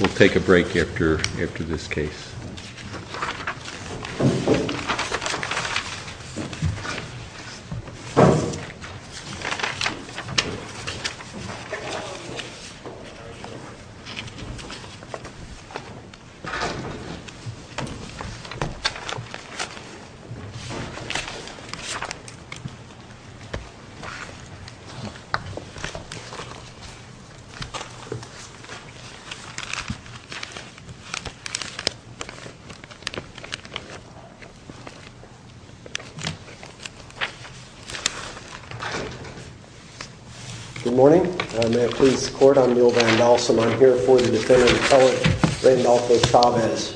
will take a break after after this case. Good morning, may it please the court, I'm Neal Vandalsen, I'm here for the defendant Cohen Randolph v. Chavez.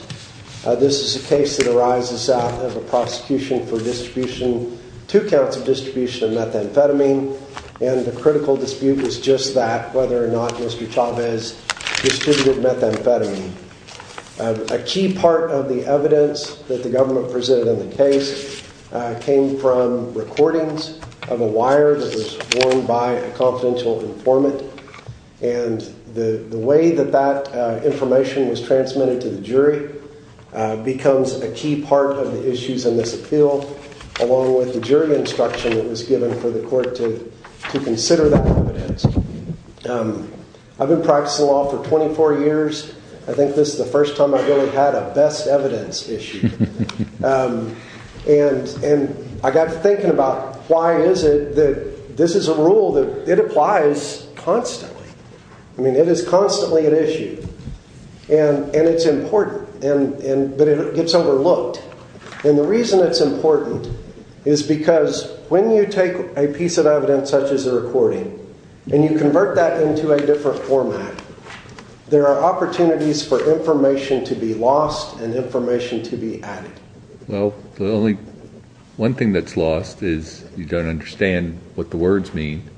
This is a case that arises out of a prosecution for distribution, two counts of distribution of methamphetamine, and the critical dispute was just that, whether or not Mr. Chavez distributed methamphetamine. A key part of the evidence that the government presented in the case came from recordings of a wire that was worn by a confidential informant, and the way that that information was transmitted to the jury becomes a key part of the issues in this appeal, along with the jury instruction that was given for the court to consider that evidence. I've been practicing law for 24 years, I think this is the first time I've really had a best evidence issue, and I got to thinking about why is it that this is a rule that it applies constantly? I mean, it is constantly an issue, and it's important, but it gets overlooked, and the Because when you take a piece of evidence such as a recording, and you convert that into a different format, there are opportunities for information to be lost, and information to be added. Well, the only one thing that's lost is you don't understand what the words mean,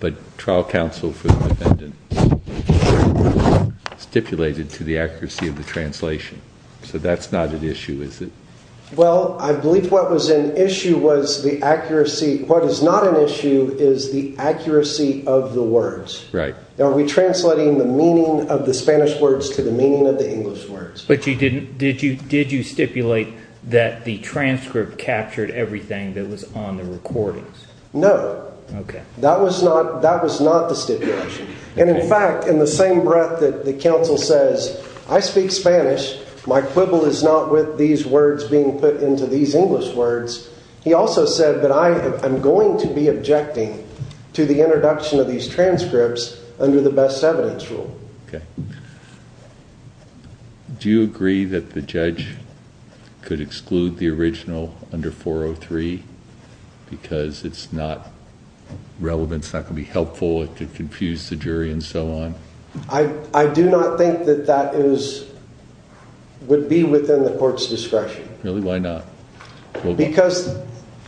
but trial counsel for the defendant stipulated to the accuracy of the translation, so that's not an issue, is it? Well, I believe what was an issue was the accuracy, what is not an issue is the accuracy of the words. Right. Are we translating the meaning of the Spanish words to the meaning of the English words? But you didn't, did you stipulate that the transcript captured everything that was on the recordings? No. Okay. That was not, that was not the stipulation, and in fact, in the same breath that the counsel says, I speak Spanish, my quibble is not with these words being put into these English words, he also said that I am going to be objecting to the introduction of these transcripts under the best evidence rule. Okay. Do you agree that the judge could exclude the original under 403 because it's not relevant, it's not going to be helpful, it could confuse the jury, and so on? I do not think that that is, would be within the court's discretion. Really? Why not? Because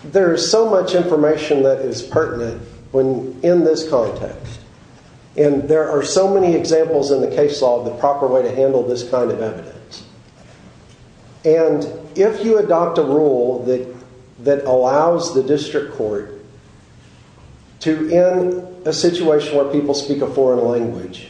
there is so much information that is pertinent when, in this context, and there are so many examples in the case law of the proper way to handle this kind of evidence. And if you adopt a rule that allows the district court to, in a situation where people speak a foreign language,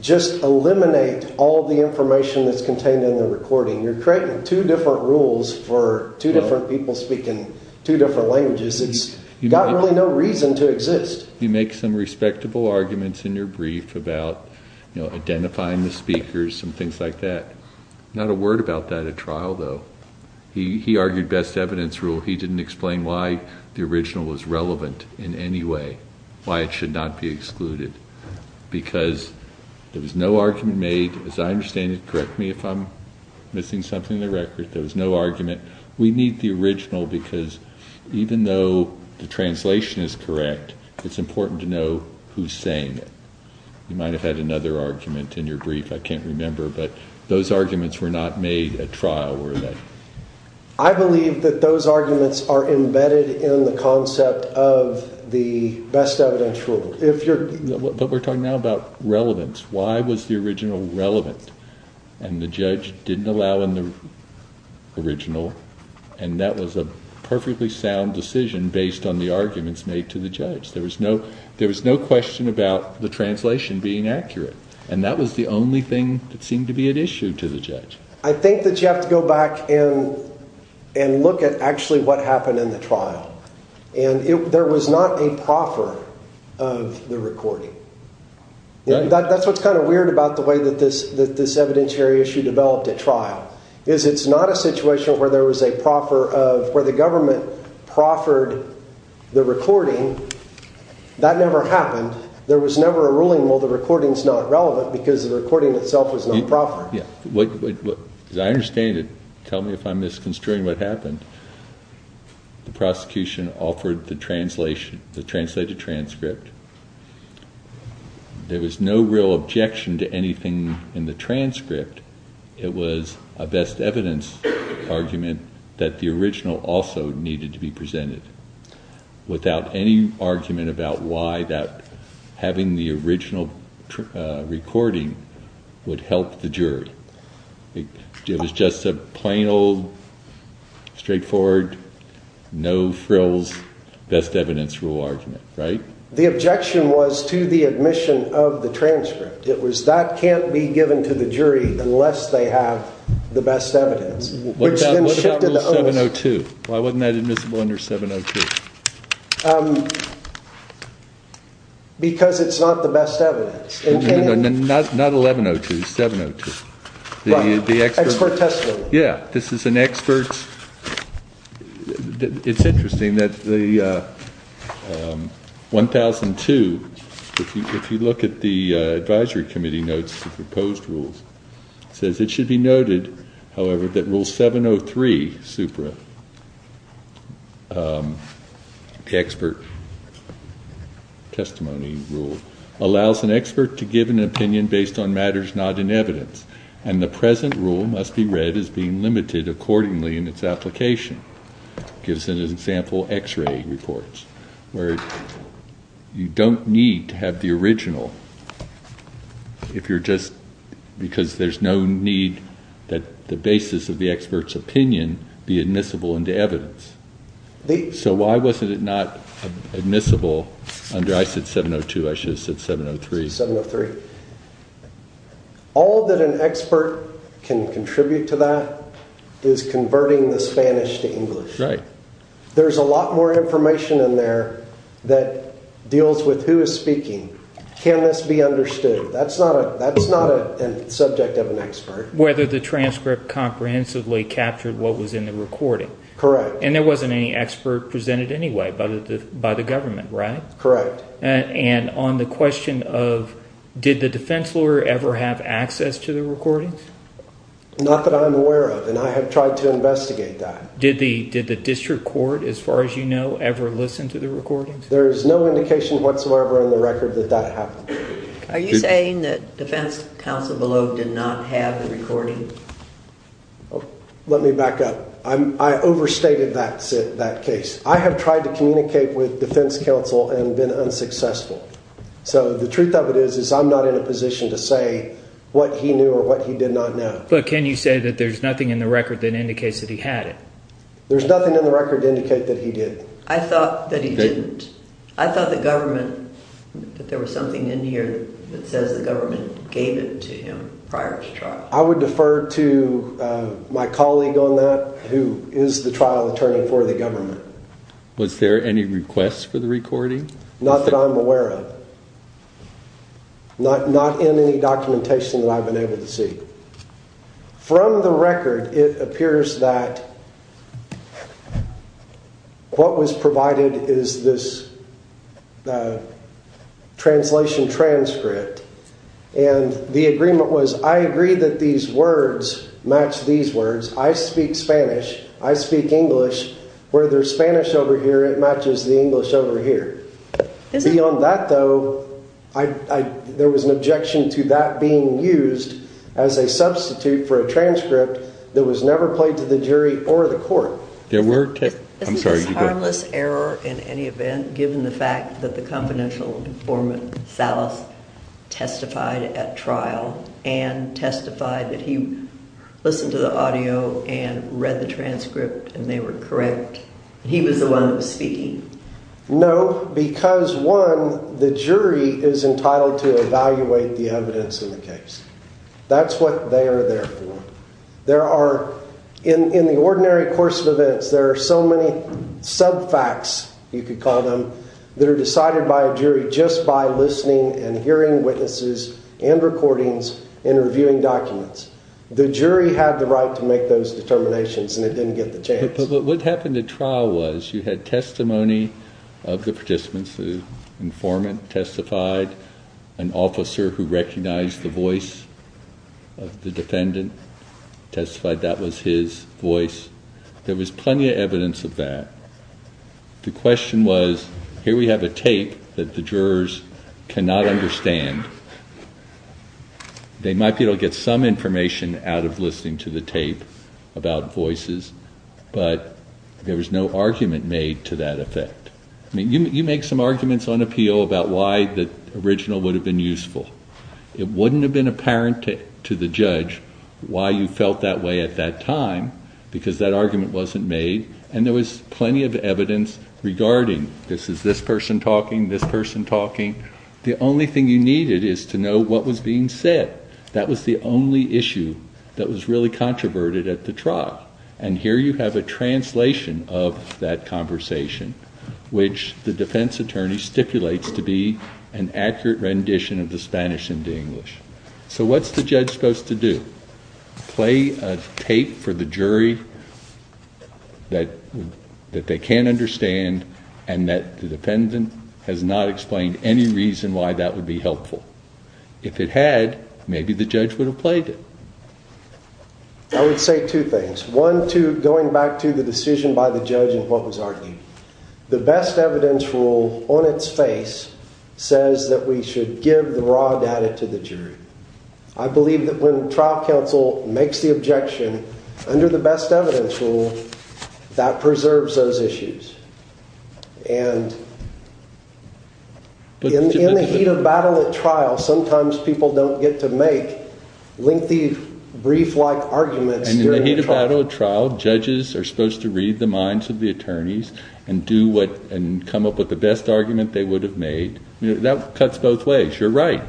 just eliminate all the information that's contained in the recording. You're creating two different rules for two different people speaking two different languages. It's got really no reason to exist. You make some respectable arguments in your brief about, you know, identifying the speakers and things like that. Not a word about that at trial, though. He argued best evidence rule. He didn't explain why the original was relevant in any way, why it should not be excluded. Because there was no argument made, as I understand it, correct me if I'm missing something in the record, there was no argument. We need the original because even though the translation is correct, it's important to know who's saying it. You might have had another argument in your brief, I can't remember, but those arguments were not made at trial, were they? I believe that those arguments are embedded in the concept of the best evidence rule. But we're talking now about relevance. Why was the original relevant? And the judge didn't allow in the original, and that was a perfectly sound decision based on the arguments made to the judge. There was no question about the translation being accurate. And that was the only thing that seemed to be at issue to the judge. I think that you have to go back and look at actually what happened in the trial. And there was not a proffer of the recording. That's what's kind of weird about the way that this evidentiary issue developed at trial, is it's not a situation where there was a proffer of, where the government proffered the recording, that never happened. There was never a ruling, well, the recording's not relevant because the recording itself was not proffered. Yeah, what, as I understand it, tell me if I'm misconstruing what happened, the prosecution offered the translation, the translated transcript. There was no real objection to anything in the transcript. It was a best evidence argument that the original also needed to be presented without any argument about why that having the original recording would help the jury. It was just a plain old, straightforward, no frills, best evidence rule argument, right? The objection was to the admission of the transcript. It was that can't be given to the jury unless they have the best evidence, which then shifted the- What about rule 702? Why wasn't that admissible under 702? Because it's not the best evidence. Not 1102, 702. The expert- Expert testimony. Yeah. This is an expert, it's interesting that the 1002, if you look at the advisory committee notes the proposed rules, it says, it should be noted, however, that rule 703, SUPRA, the expert testimony rule, allows an expert to give an opinion based on matters not in evidence, and the present rule must be read as being limited accordingly in its application. Gives an example, x-ray reports, where you don't need to have the original if you're just, because there's no need that the basis of the expert's opinion be admissible into evidence. The- So why wasn't it not admissible under, I said 702, I should have said 703. 703. All that an expert can contribute to that is converting the Spanish to English. Right. There's a lot more information in there that deals with who is speaking. Can this be understood? That's not a subject of an expert. Whether the transcript comprehensively captured what was in the recording. Correct. And there wasn't any expert presented anyway by the government, right? Correct. And on the question of, did the defense lawyer ever have access to the recordings? Not that I'm aware of, and I have tried to investigate that. Did the district court, as far as you know, ever listen to the recordings? There's no indication whatsoever on the record that that happened. Are you saying that defense counsel below did not have the recording? Let me back up. I overstated that case. I have tried to communicate with defense counsel and been unsuccessful. So the truth of it is, is I'm not in a position to say what he knew or what he did not know. But can you say that there's nothing in the record that indicates that he had it? There's nothing in the record to indicate that he did. I thought that he didn't. I thought that government, that there was something in here that says the government gave it to him prior to trial. I would defer to my colleague on that, who is the trial attorney for the government. Was there any requests for the recording? Not that I'm aware of. Not in any documentation that I've been able to see. From the record, it appears that what was provided is this translation transcript. And the agreement was, I agree that these words match these words. I speak Spanish. I speak English. Where there's Spanish over here, it matches the English over here. Beyond that though, there was an objection to that being used as a substitute for a transcript that was never played to the jury or the court. There were, I'm sorry. Is this harmless error in any event, given the fact that the confidential informant, Salas, testified at trial, and testified that he listened to the audio and read the transcript and they were correct, and he was the one that was speaking? No, because one, the jury is entitled to evaluate the evidence in the case. That's what they are there for. There are, in the ordinary course of events, there are so many sub-facts, you could call them, that are decided by a jury just by listening and hearing witnesses and recordings and reviewing documents. The jury had the right to make those determinations and it didn't get the chance. But what happened at trial was, you had testimony of the participants, the informant testified, an officer who recognized the voice of the defendant testified that was his voice. There was plenty of evidence of that. The question was, here we have a tape that the jurors cannot understand. They might be able to get some information out of listening to the tape about voices, but there was no argument made to that effect. I mean, you make some arguments on appeal about why the original would have been to the judge, why you felt that way at that time, because that argument wasn't made. And there was plenty of evidence regarding, this is this person talking, this person talking. The only thing you needed is to know what was being said. That was the only issue that was really controverted at the trial. And here you have a translation of that conversation, which the defense attorney stipulates to be an accurate rendition of the Spanish and the English. So what's the judge supposed to do? Play a tape for the jury that they can't understand, and that the defendant has not explained any reason why that would be helpful. If it had, maybe the judge would have played it. I would say two things. One, going back to the decision by the judge and what was argued. The best evidence rule on its face says that we should give the raw data to the jury. I believe that when trial counsel makes the objection under the best evidence rule, that preserves those issues. And in the heat of battle at trial, sometimes people don't get to make lengthy, brief-like arguments. And in the heat of battle at trial, judges are supposed to read the minds of the attorneys and do what, and come up with the best argument they would have made. That cuts both ways. You're right.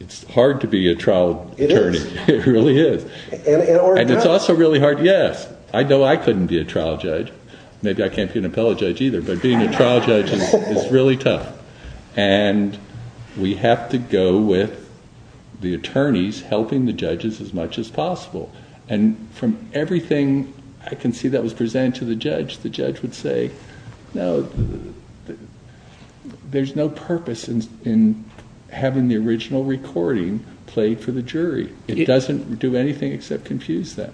It's hard to be a trial attorney. It is. It really is. And it's also really hard. Yes, I know I couldn't be a trial judge. Maybe I can't be an appellate judge either, but being a trial judge is really tough. And we have to go with the attorneys helping the judges as much as possible. And from everything I can see that was presented to the judge, the judge would say, no, there's no purpose in having the original recording played for the jury. It doesn't do anything except confuse them.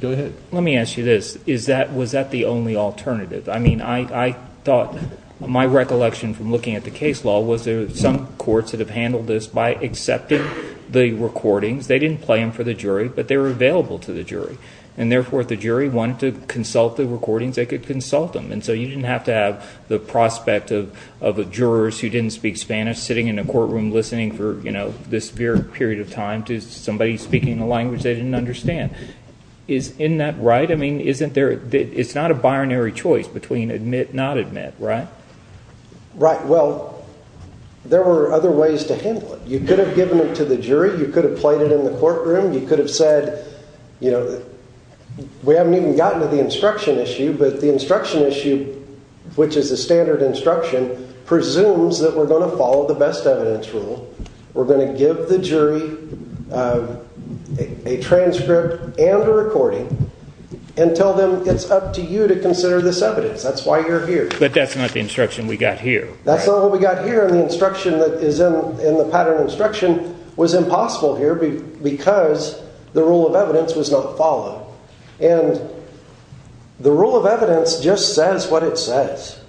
Go ahead. Let me ask you this. Is that, was that the only alternative? I mean, I thought, my recollection from looking at the case law was there are some courts that have handled this by accepting the recordings. They didn't play them for the jury, but they were available to the jury. And therefore, if the jury wanted to consult the recordings, they could consult them. And so you didn't have to have the prospect of a juror who didn't speak Spanish sitting in a courtroom listening for this period of time to somebody speaking a language they didn't understand. Isn't that right? I mean, isn't there, it's not a binary choice between admit, not admit, right? Right, well, there were other ways to handle it. You could have given it to the jury. You could have played it in the courtroom. You could have said, you know, we haven't even gotten to the instruction issue, but the instruction issue, which is a standard instruction, presumes that we're going to follow the best evidence rule. We're going to give the jury a transcript and a recording and tell them it's up to you to consider this evidence. That's why you're here. But that's not the instruction we got here. That's not what we got here. And the instruction that is in the pattern instruction was impossible here because the rule of evidence was not followed. And the rule of evidence just says what it says.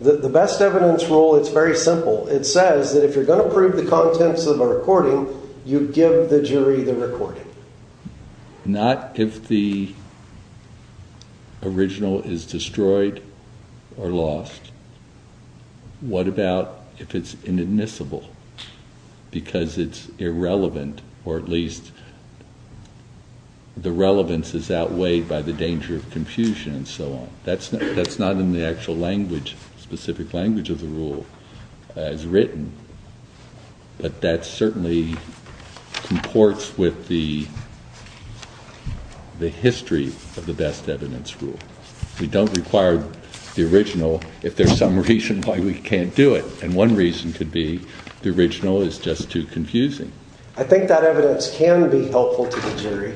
The best evidence rule, it's very simple. It says that if you're going to prove the contents of a recording, you give the jury the recording. Not if the original is destroyed or lost. What about if it's inadmissible because it's irrelevant or at least the relevance is outweighed by the danger of confusion and so on. That's not in the actual language, specific language of the rule as written. But that certainly comports with the history of the best evidence rule. We don't require the original if there's some reason why we can't do it. And one reason could be the original is just too confusing. I think that evidence can be helpful to the jury.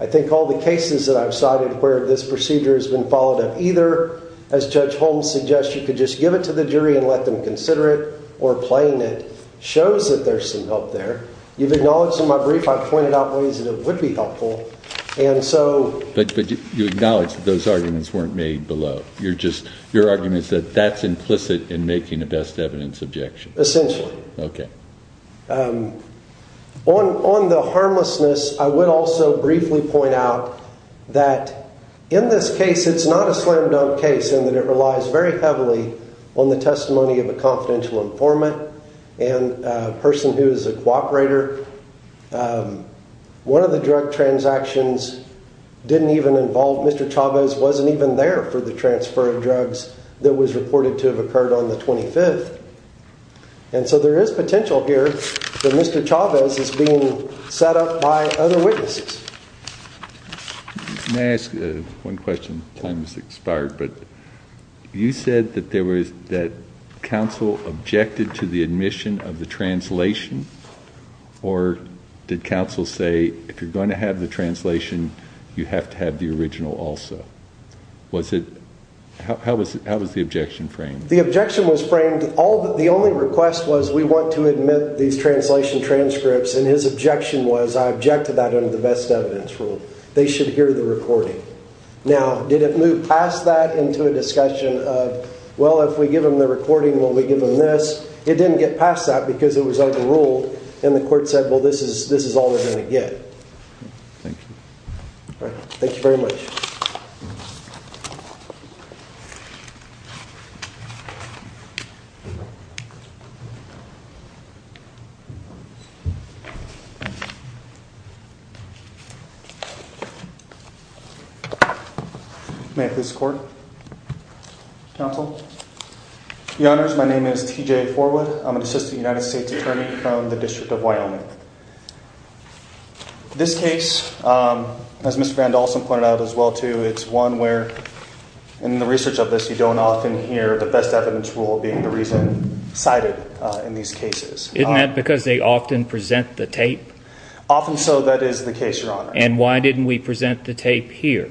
I think all the cases that I've cited where this procedure has been followed up either, as Judge Holmes suggests, you could just give it to the jury and let them consider it or playing it, shows that there's some help there. You've acknowledged in my brief I've pointed out ways that it would be helpful. And so- But you acknowledge that those arguments weren't made below. You're just, your argument is that that's implicit in making a best evidence objection. Essentially. Okay. On the harmlessness, I would also briefly point out that in this case, it's not a slam dunk case in that it relies very heavily on the testimony of a confidential informant and a person who is a cooperator. One of the drug transactions didn't even involve, Mr. Chavez wasn't even there for the transfer of drugs that was reported to have occurred on the 25th. And so there is potential here that Mr. Chavez is being set up by other witnesses. May I ask one question? Time has expired, but you said that there was, that counsel objected to the admission of the translation, or did counsel say, if you're going to have the translation, you have to have the original also? Was it, how was the objection framed? The objection was framed, the only request was, we want to admit these translation transcripts, and his objection was, I object to that under the best evidence rule. They should hear the recording. Now, did it move past that into a discussion of, well, if we give them the recording, will we give them this? It didn't get past that, because it was under the rule, and the court said, well, this is all they're going to get. Thank you. All right, thank you very much. May I please record? Counsel? Your honors, my name is TJ Forwood. I'm an assistant United States attorney from the District of Wyoming. This case, as Mr. Vandalsen pointed out as well, too, is one where, in the research of this, you don't often hear the best evidence rule being the reason cited in these cases. Isn't that because they often present the tape? Often so, that is the case, your honor. And why didn't we present the tape here?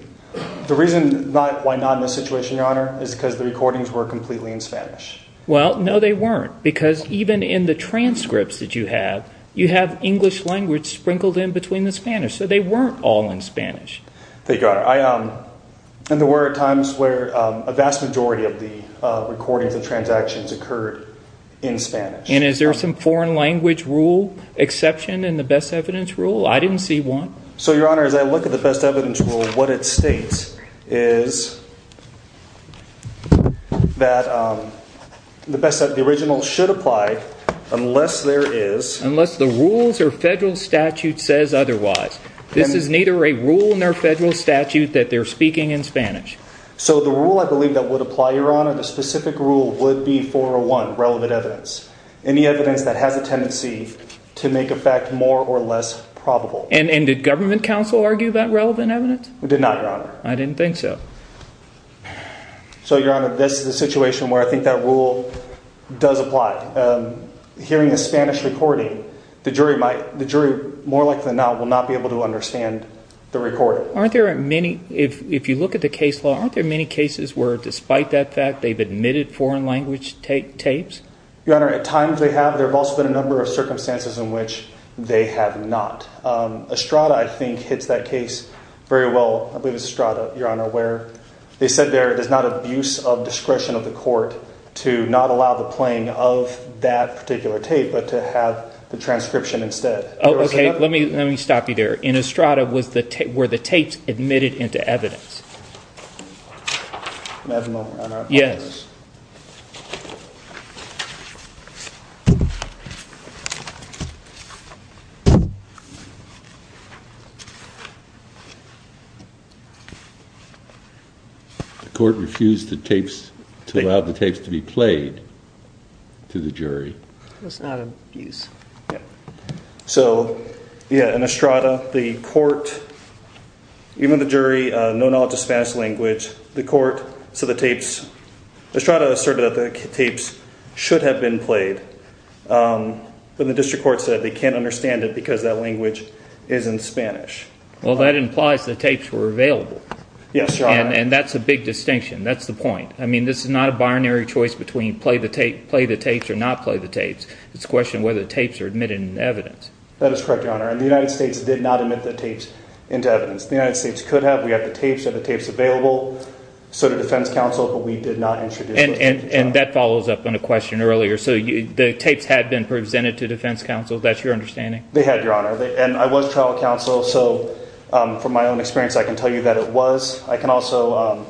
The reason why not in this situation, your honor, is because the recordings were completely in Spanish. Well, no, they weren't, because even in the transcripts that you have, you have English language sprinkled in between the Spanish, so they weren't all in Spanish. Thank you, your honor. And there were times where a vast majority of the recordings and transactions occurred in Spanish. And is there some foreign language rule exception in the best evidence rule? I didn't see one. So, your honor, as I look at the best evidence rule, what it states is that the original should apply unless there is. Unless the rules or federal statute says otherwise. This is neither a rule nor federal statute that they're speaking in Spanish. So, the rule I believe that would apply, your honor, the specific rule would be 401, relevant evidence. Any evidence that has a tendency to make a fact more or less probable. And did government counsel argue that relevant evidence? We did not, your honor. I didn't think so. So, your honor, this is a situation where I think that rule does apply. Hearing the Spanish recording, the jury more likely than not will not be able to understand the recording. Aren't there many, if you look at the case law, aren't there many cases where despite that fact, they've admitted foreign language tapes? Your honor, at times they have. There have also been a number of circumstances in which they have not. Estrada, I think, hits that case very well. I believe it's Estrada, your honor, where they said there it is not abuse of discretion of the court to not allow the playing of that particular tape, but to have the transcription instead. Oh, okay. Let me let me stop you there. In Estrada was the tape where the tapes admitted into evidence. Yes. The court refused the tapes to allow the tapes to be played to the jury. It's not abuse. So, yeah, in Estrada, the court, even the jury, no knowledge of Spanish language, the court, so the tapes, Estrada asserted that the tapes should have been played. But the district court said they can't understand it because that language is in Spanish. Well, that implies the tapes were available. Yes, your honor. And that's a big distinction. That's the point. I mean, this is not a binary choice between play the tape, play the tapes or not play the tapes. It's a question whether the tapes are admitted in evidence. That is correct, your honor. And the United States did not admit the tapes into evidence. The United States could have. We have the tapes and the tapes available. So the defense counsel, but we did not introduce. And that follows up on a question earlier. So the tapes had been presented to defense counsel. That's your understanding. They had, your honor. And I was trial counsel. So from my own experience, I can tell you that it was. I can also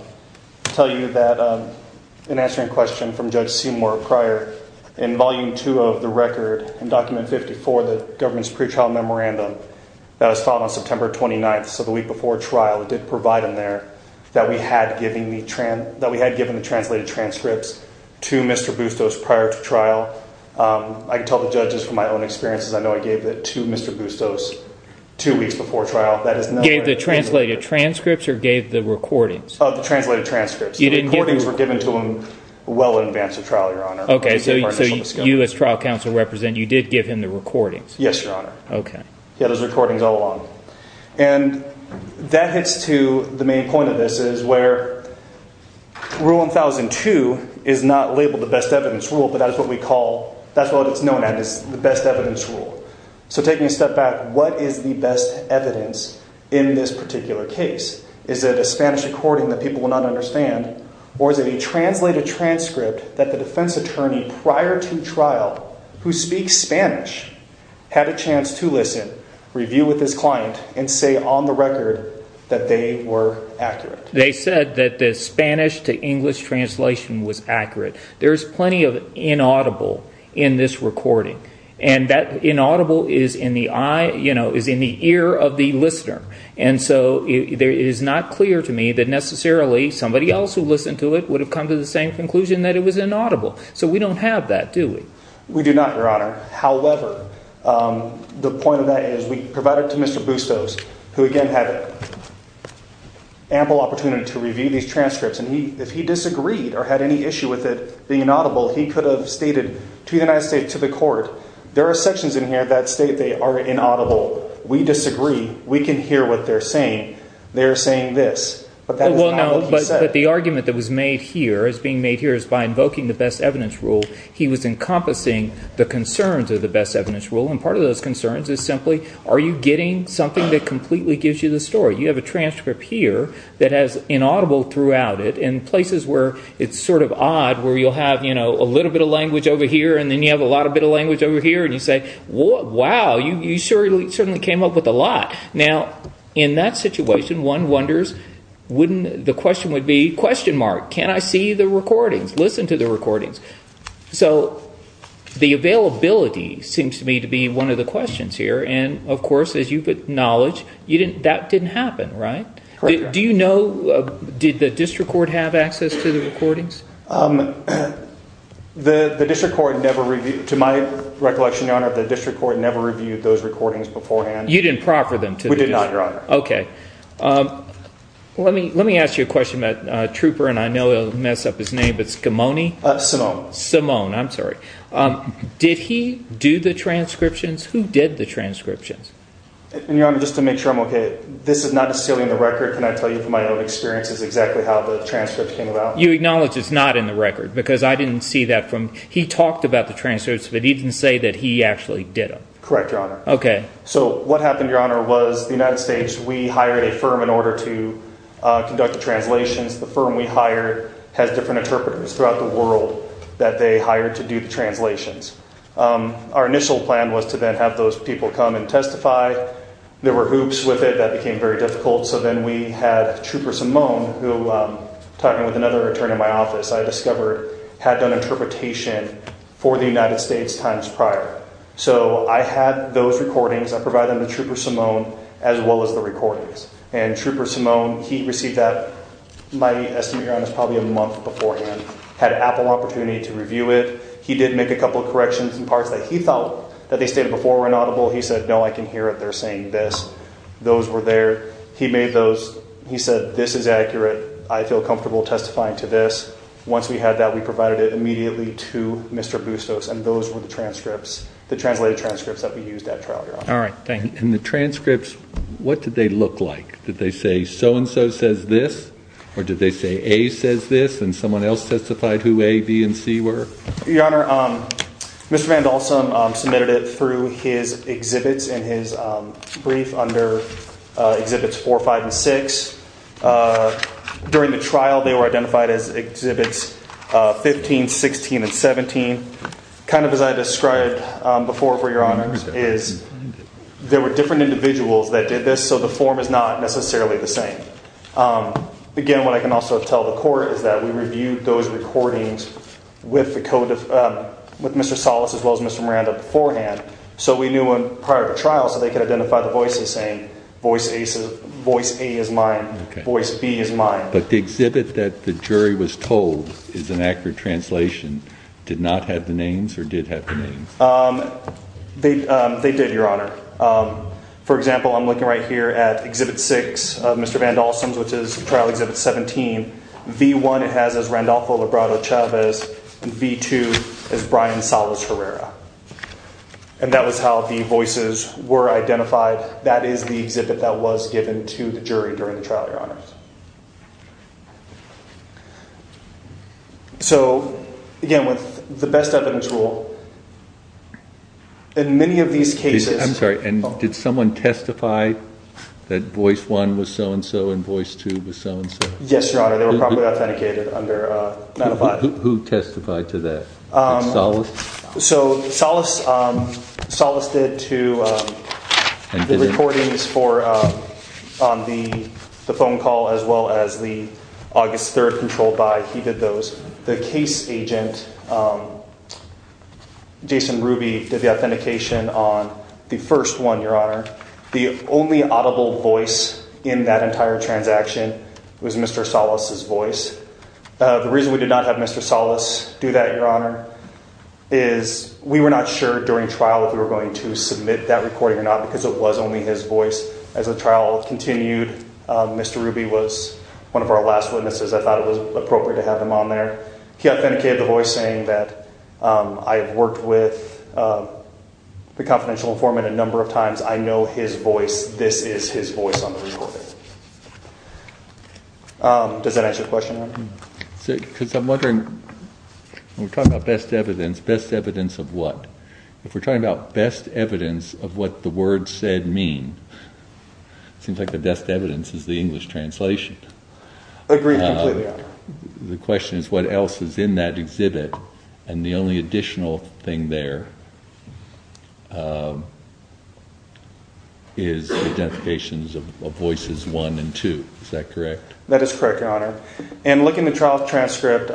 tell you that in answering a question from Judge Seymour prior in volume two of the record and document 54, the government's pretrial memorandum that was filed on September 29th. So the week before trial did provide in there that we had giving the trend that we had given the translated transcripts to Mr. Bustos prior to trial. I can tell the judges from my own experiences. I know I gave it to Mr. Bustos two weeks before trial. That is not the translated transcripts or gave the recordings of the translated transcripts. You didn't get things were given to him well in advance of trial. Your honor. Okay. So you as trial counsel represent you did give him the recordings. Yes, your honor. Okay. Yeah, there's recordings all along. And that hits to the main point of this is where rule 1002 is not labeled the best evidence rule. But that's what we call. That's what it's known as the best evidence rule. So taking a step back. What is the best evidence in this particular case? Is it a Spanish recording that people will not understand or is it a translated transcript that the defense attorney prior to trial who speaks Spanish had a chance to listen review with his client? And say on the record that they were accurate. They said that the Spanish to English translation was accurate. There's plenty of inaudible in this recording and that inaudible is in the eye, you know is in the ear of the listener. And so there is not clear to me that necessarily somebody else who listened to it would have come to the same conclusion that it was inaudible. So we don't have that do we? We do not your honor. However, the point of that is we provided to Mr. Bustos who again had ample opportunity to review these transcripts and he if he disagreed or had any issue with it being inaudible. He could have stated to the United States to the court. There are sections in here that state. They are inaudible. We disagree. We can hear what they're saying. They're saying this. But the argument that was made here is being made here is by invoking the best evidence rule. He was encompassing the concerns of the best evidence rule and part of those concerns is simply are you getting something that completely gives you the story? You have a transcript here that has inaudible throughout it in places where it's sort of odd where you'll have, you know, a little bit of language over here. And then you have a lot of bit of language over here and you say wow, you surely certainly came up with a lot now in that situation. One wonders wouldn't the question would be question mark. Can I see the recordings? Listen to the recordings. So the availability seems to me to be one of the questions here. And of course, as you put knowledge, you didn't that didn't happen, right? Do you know? Did the district court have access to the recordings? The district court never reviewed to my recollection, your honor, the district court never reviewed those recordings beforehand. You didn't proffer them to do not your honor. Okay, let me let me ask you a question about trooper. And I know it'll mess up his name. But skimoni Simone, I'm sorry. Did he do the transcriptions? Who did the transcriptions in your honor? Just to make sure I'm okay. This is not a silly in the record. Can I tell you from my own experience is exactly how the transcript came about. You acknowledge it's not in the record because I didn't see that from he talked about the transcripts, but he didn't say that he actually did correct your honor. Okay. So what happened? Your honor was the United States. We hired a firm in order to conduct the translations. The firm we hire has different interpreters throughout the world that they hired to do the translations. Our initial plan was to then have those people come and testify. There were hoops with it that became very difficult. So then we had trooper Simone, who talking with another attorney in my office, I discovered had done interpretation for the United States times prior. So I had those recordings. I provide them to trooper Simone as well as the recordings and trooper Simone. He received that my estimate around is probably a month beforehand had Apple opportunity to review it. He did make a couple of corrections and parts that he thought that they stated before were inaudible. He said no, I can hear it. They're saying this those were there. He made those. He said this is accurate. I feel comfortable testifying to this. Once we had that, we provided it immediately to Mr. Bustos and those were the transcripts, the translated transcripts that we used at trial. You're all right. Thank you. And the transcripts. What did they look like? Did they say so and so says this or did they say a says this and someone else testified who a B and C were your honor? Mr. Vandal some submitted it through his exhibits in his brief under exhibits for five and six during the trial. They were identified as exhibits 15 16 and 17 kind of as I described before for your honors is there were different individuals that did this. So the form is not necessarily the same again. What I can also tell the court is that we reviewed those recordings with the code of with Mr. Solace as well as Mr. Miranda beforehand. So we knew when prior to trial so they could identify the voices saying voice a voice a is mine voice B is mine. But the exhibit that the jury was told is an accurate translation did not have the names or did have the name they did. Your honor. For example, I'm looking right here at exhibit six of Mr. Vandal some which is trial exhibit 17 V1. It has as Randolpho Labrado Chavez and V2 as Brian Solace Herrera and that was how the voices were identified. That is the exhibit that was given to the jury during the trial. Your honors. So again with the best evidence rule in many of these cases, I'm sorry. And did someone testify that voice one was so-and-so and voice two was so-and-so. Yes, your honor. They were probably authenticated under who testified to that solace. So solace solace did to the recordings for on the phone call as well as the August 3rd control by he did those the case agent. Jason Ruby did the authentication on the first one. Your honor. The only audible voice in that entire transaction was Mr. Solace's voice. The reason we did not have Mr. Solace do that. Your honor is we were not sure during trial. If we were going to submit that recording or not because it was only his voice as a trial continued. Mr. Ruby was one of our last witnesses. I thought it was appropriate to have them on there. He authenticated the voice saying that I have worked with the confidential informant a number of times. I know his voice. This is his voice on the report. Does that answer the question? I'm wondering we're talking about best evidence best evidence of what if we're talking about best evidence of what the word said mean? Seems like the best evidence is the English translation. The question is what else is in that exhibit and the only additional thing there? Is the identification of voices one and two. Is that correct? That is correct. Your honor and look in the trial transcript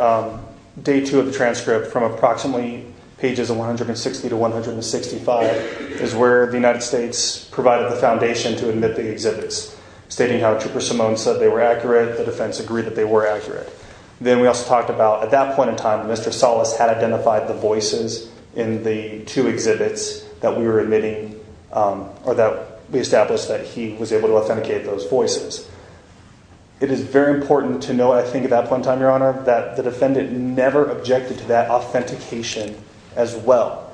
day two of the transcript from approximately pages of 160 to 165 is where the United States provided the foundation to admit the exhibits stating how trooper Simone said they were accurate. The defense agreed that they were accurate. Then we also talked about at that point in time. Mr. Solace had identified the voices in the two exhibits that we were admitting or that we established that he was able to authenticate those voices. It is very important to know. I think about one time your honor that the defendant never objected to that authentication as well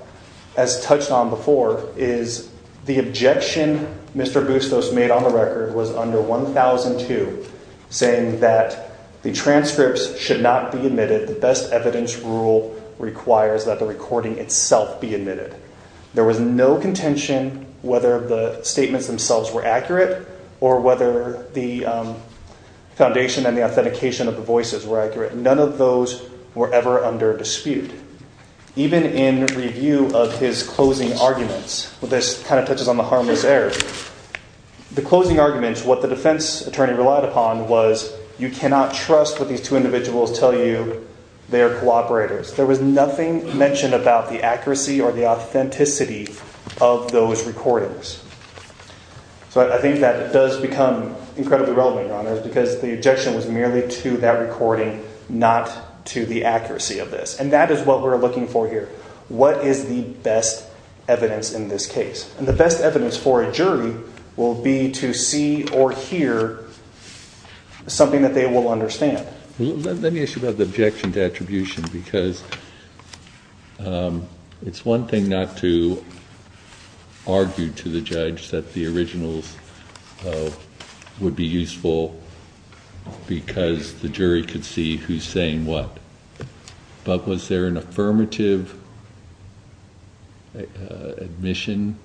as touched on before is the objection. Mr. Bustos made on the record was under 1002 saying that the transcripts should not be admitted. The best evidence rule requires that the recording itself be admitted. There was no contention whether the statements themselves were accurate or whether the foundation and the authentication of the voices were accurate. None of those were ever under dispute even in review of his closing arguments. Well, this kind of touches on the harmless air. The closing arguments what the defense attorney relied upon was you cannot trust what these two individuals tell you. They are cooperators. There was nothing mentioned about the accuracy or the authenticity of those recordings. So I think that does become incredibly relevant on those because the objection was merely to that recording, not to the accuracy of this. And that is what we're looking for here. What is the best evidence in this case? And the best evidence for a jury will be to see or hear something that they will understand. Let me ask you about the objection to attribution because it's one thing not to argue to the judge that the originals would be useful because the jury could see who's saying what. But was there an affirmative admission,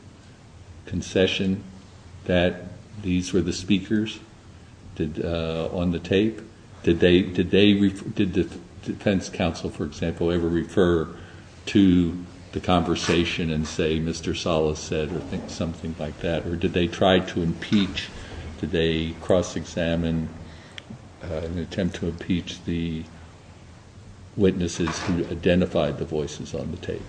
concession that these were the speakers on the tape? Did the defense counsel, for example, ever refer to the conversation and say Mr. Salas said or think something like that? Or did they try to impeach? Did they cross-examine an attempt to impeach the witnesses who identified the voices on the tape?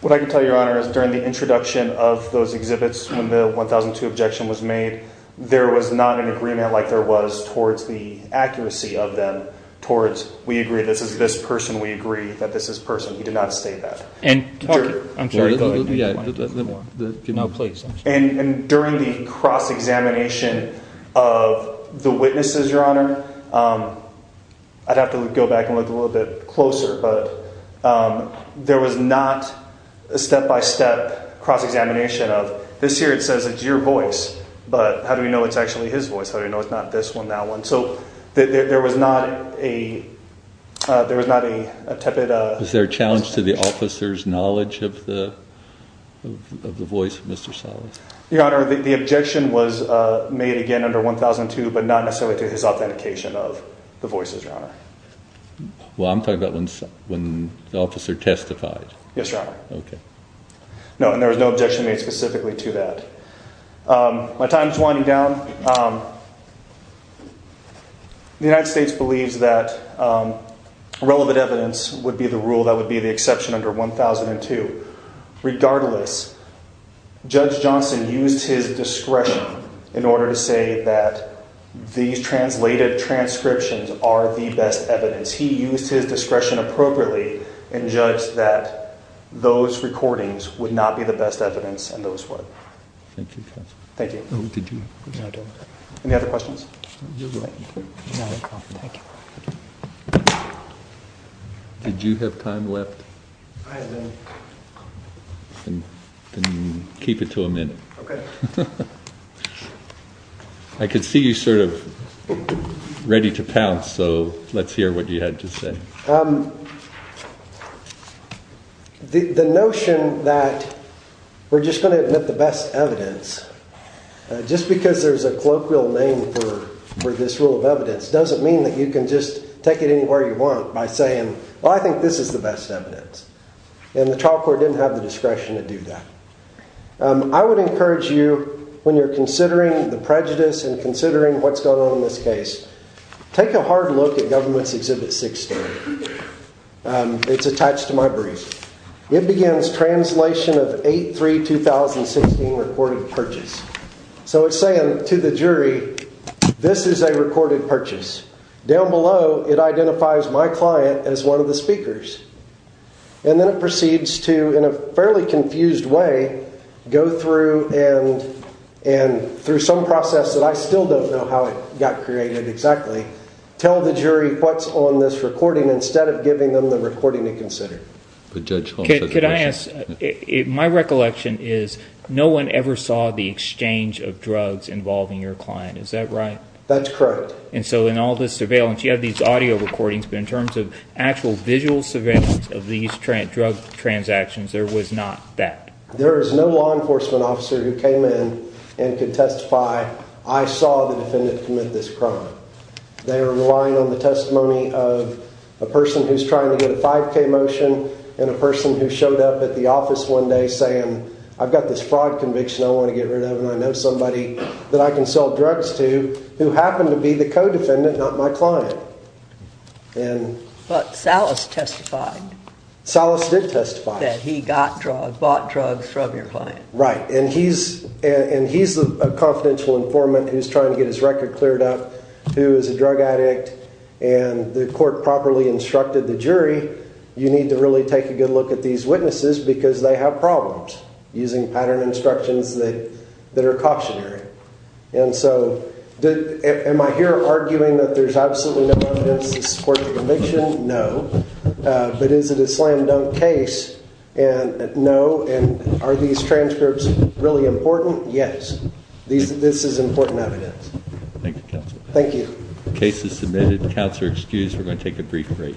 What I can tell you, your honor, is during the introduction of those exhibits when the 1002 objection was made, there was not an agreement like there was towards the accuracy of them. Towards we agree this is this person. We agree that this is person. He did not state that. And I'm sorry. Yeah, the place. And during the cross-examination of the witnesses, your honor, I'd have to go back and look a little bit closer. But there was not a step-by-step cross-examination of this here. It says it's your voice. But how do we know it's actually his voice? I don't know. It's not this one. That one. So there was not a there was not a tepid. Is there a challenge to the officer's knowledge of the of the voice? Mr. Salas, your honor. The objection was made again under 1002, but not necessarily to his authentication of the voices, your honor. Well, I'm talking about when when the officer testified. Yes, your honor. Okay. No, and there was no objection made specifically to that. My time is winding down. The United States believes that relevant evidence would be the rule that would be the exception under 1002. Regardless, Judge Johnson used his discretion in order to say that these translated transcriptions are the best evidence. He used his discretion appropriately and judged that those recordings would not be the best evidence. And those were. Thank you. Thank you. Any other questions? Thank you. Did you have time left? Keep it to a minute. Okay. I could see you sort of ready to pounce. So let's hear what you had to say. The notion that we're just going to admit the best evidence just because there's a colloquial name for this rule of evidence doesn't mean that you can just take it anywhere you want by saying, well, I think this is the best evidence and the trial court didn't have the discretion to do that. I would encourage you when you're considering the prejudice and considering what's going on in this case, take a hard look at government's exhibit 16. It's attached to my brief. It begins translation of 8 3 2016 recorded purchase. So it's saying to the jury, this is a recorded purchase down below. It identifies my client as one of the speakers and then it proceeds to in a fairly confused way go through and and through some process that I still don't know how it got created. Exactly. Tell the jury what's on this recording instead of giving them the recording to consider the judge. Could I ask it? My recollection is no one ever saw the exchange of drugs involving your client. Is that right? That's correct. And so in all this surveillance, you have these audio recordings, but in terms of actual visual surveillance of these trend drug transactions, there was not that there is no law enforcement officer who came in and could testify. I saw the defendant commit this crime. They are relying on the testimony of a person who's trying to get a 5k motion and a person who showed up at the office one day saying I've got this fraud conviction. I want to get rid of and I know somebody that I can sell drugs to who happened to be the co-defendant, not my client. And but Salas testified. Salas did testify that he got drug bought drugs from your client, right? And he's and he's a confidential informant who's trying to get his record cleared up, who is a drug addict and the court properly instructed the jury. You need to really take a good look at these witnesses because they have problems using pattern instructions that that are cautionary. And so am I here arguing that there's absolutely no evidence to support the conviction? No, but is it a slam dunk case? And no. And are these transcripts really important? Yes. These this is important evidence. Thank you. Thank you. Case is submitted. The counts are excused. We're going to take a brief break.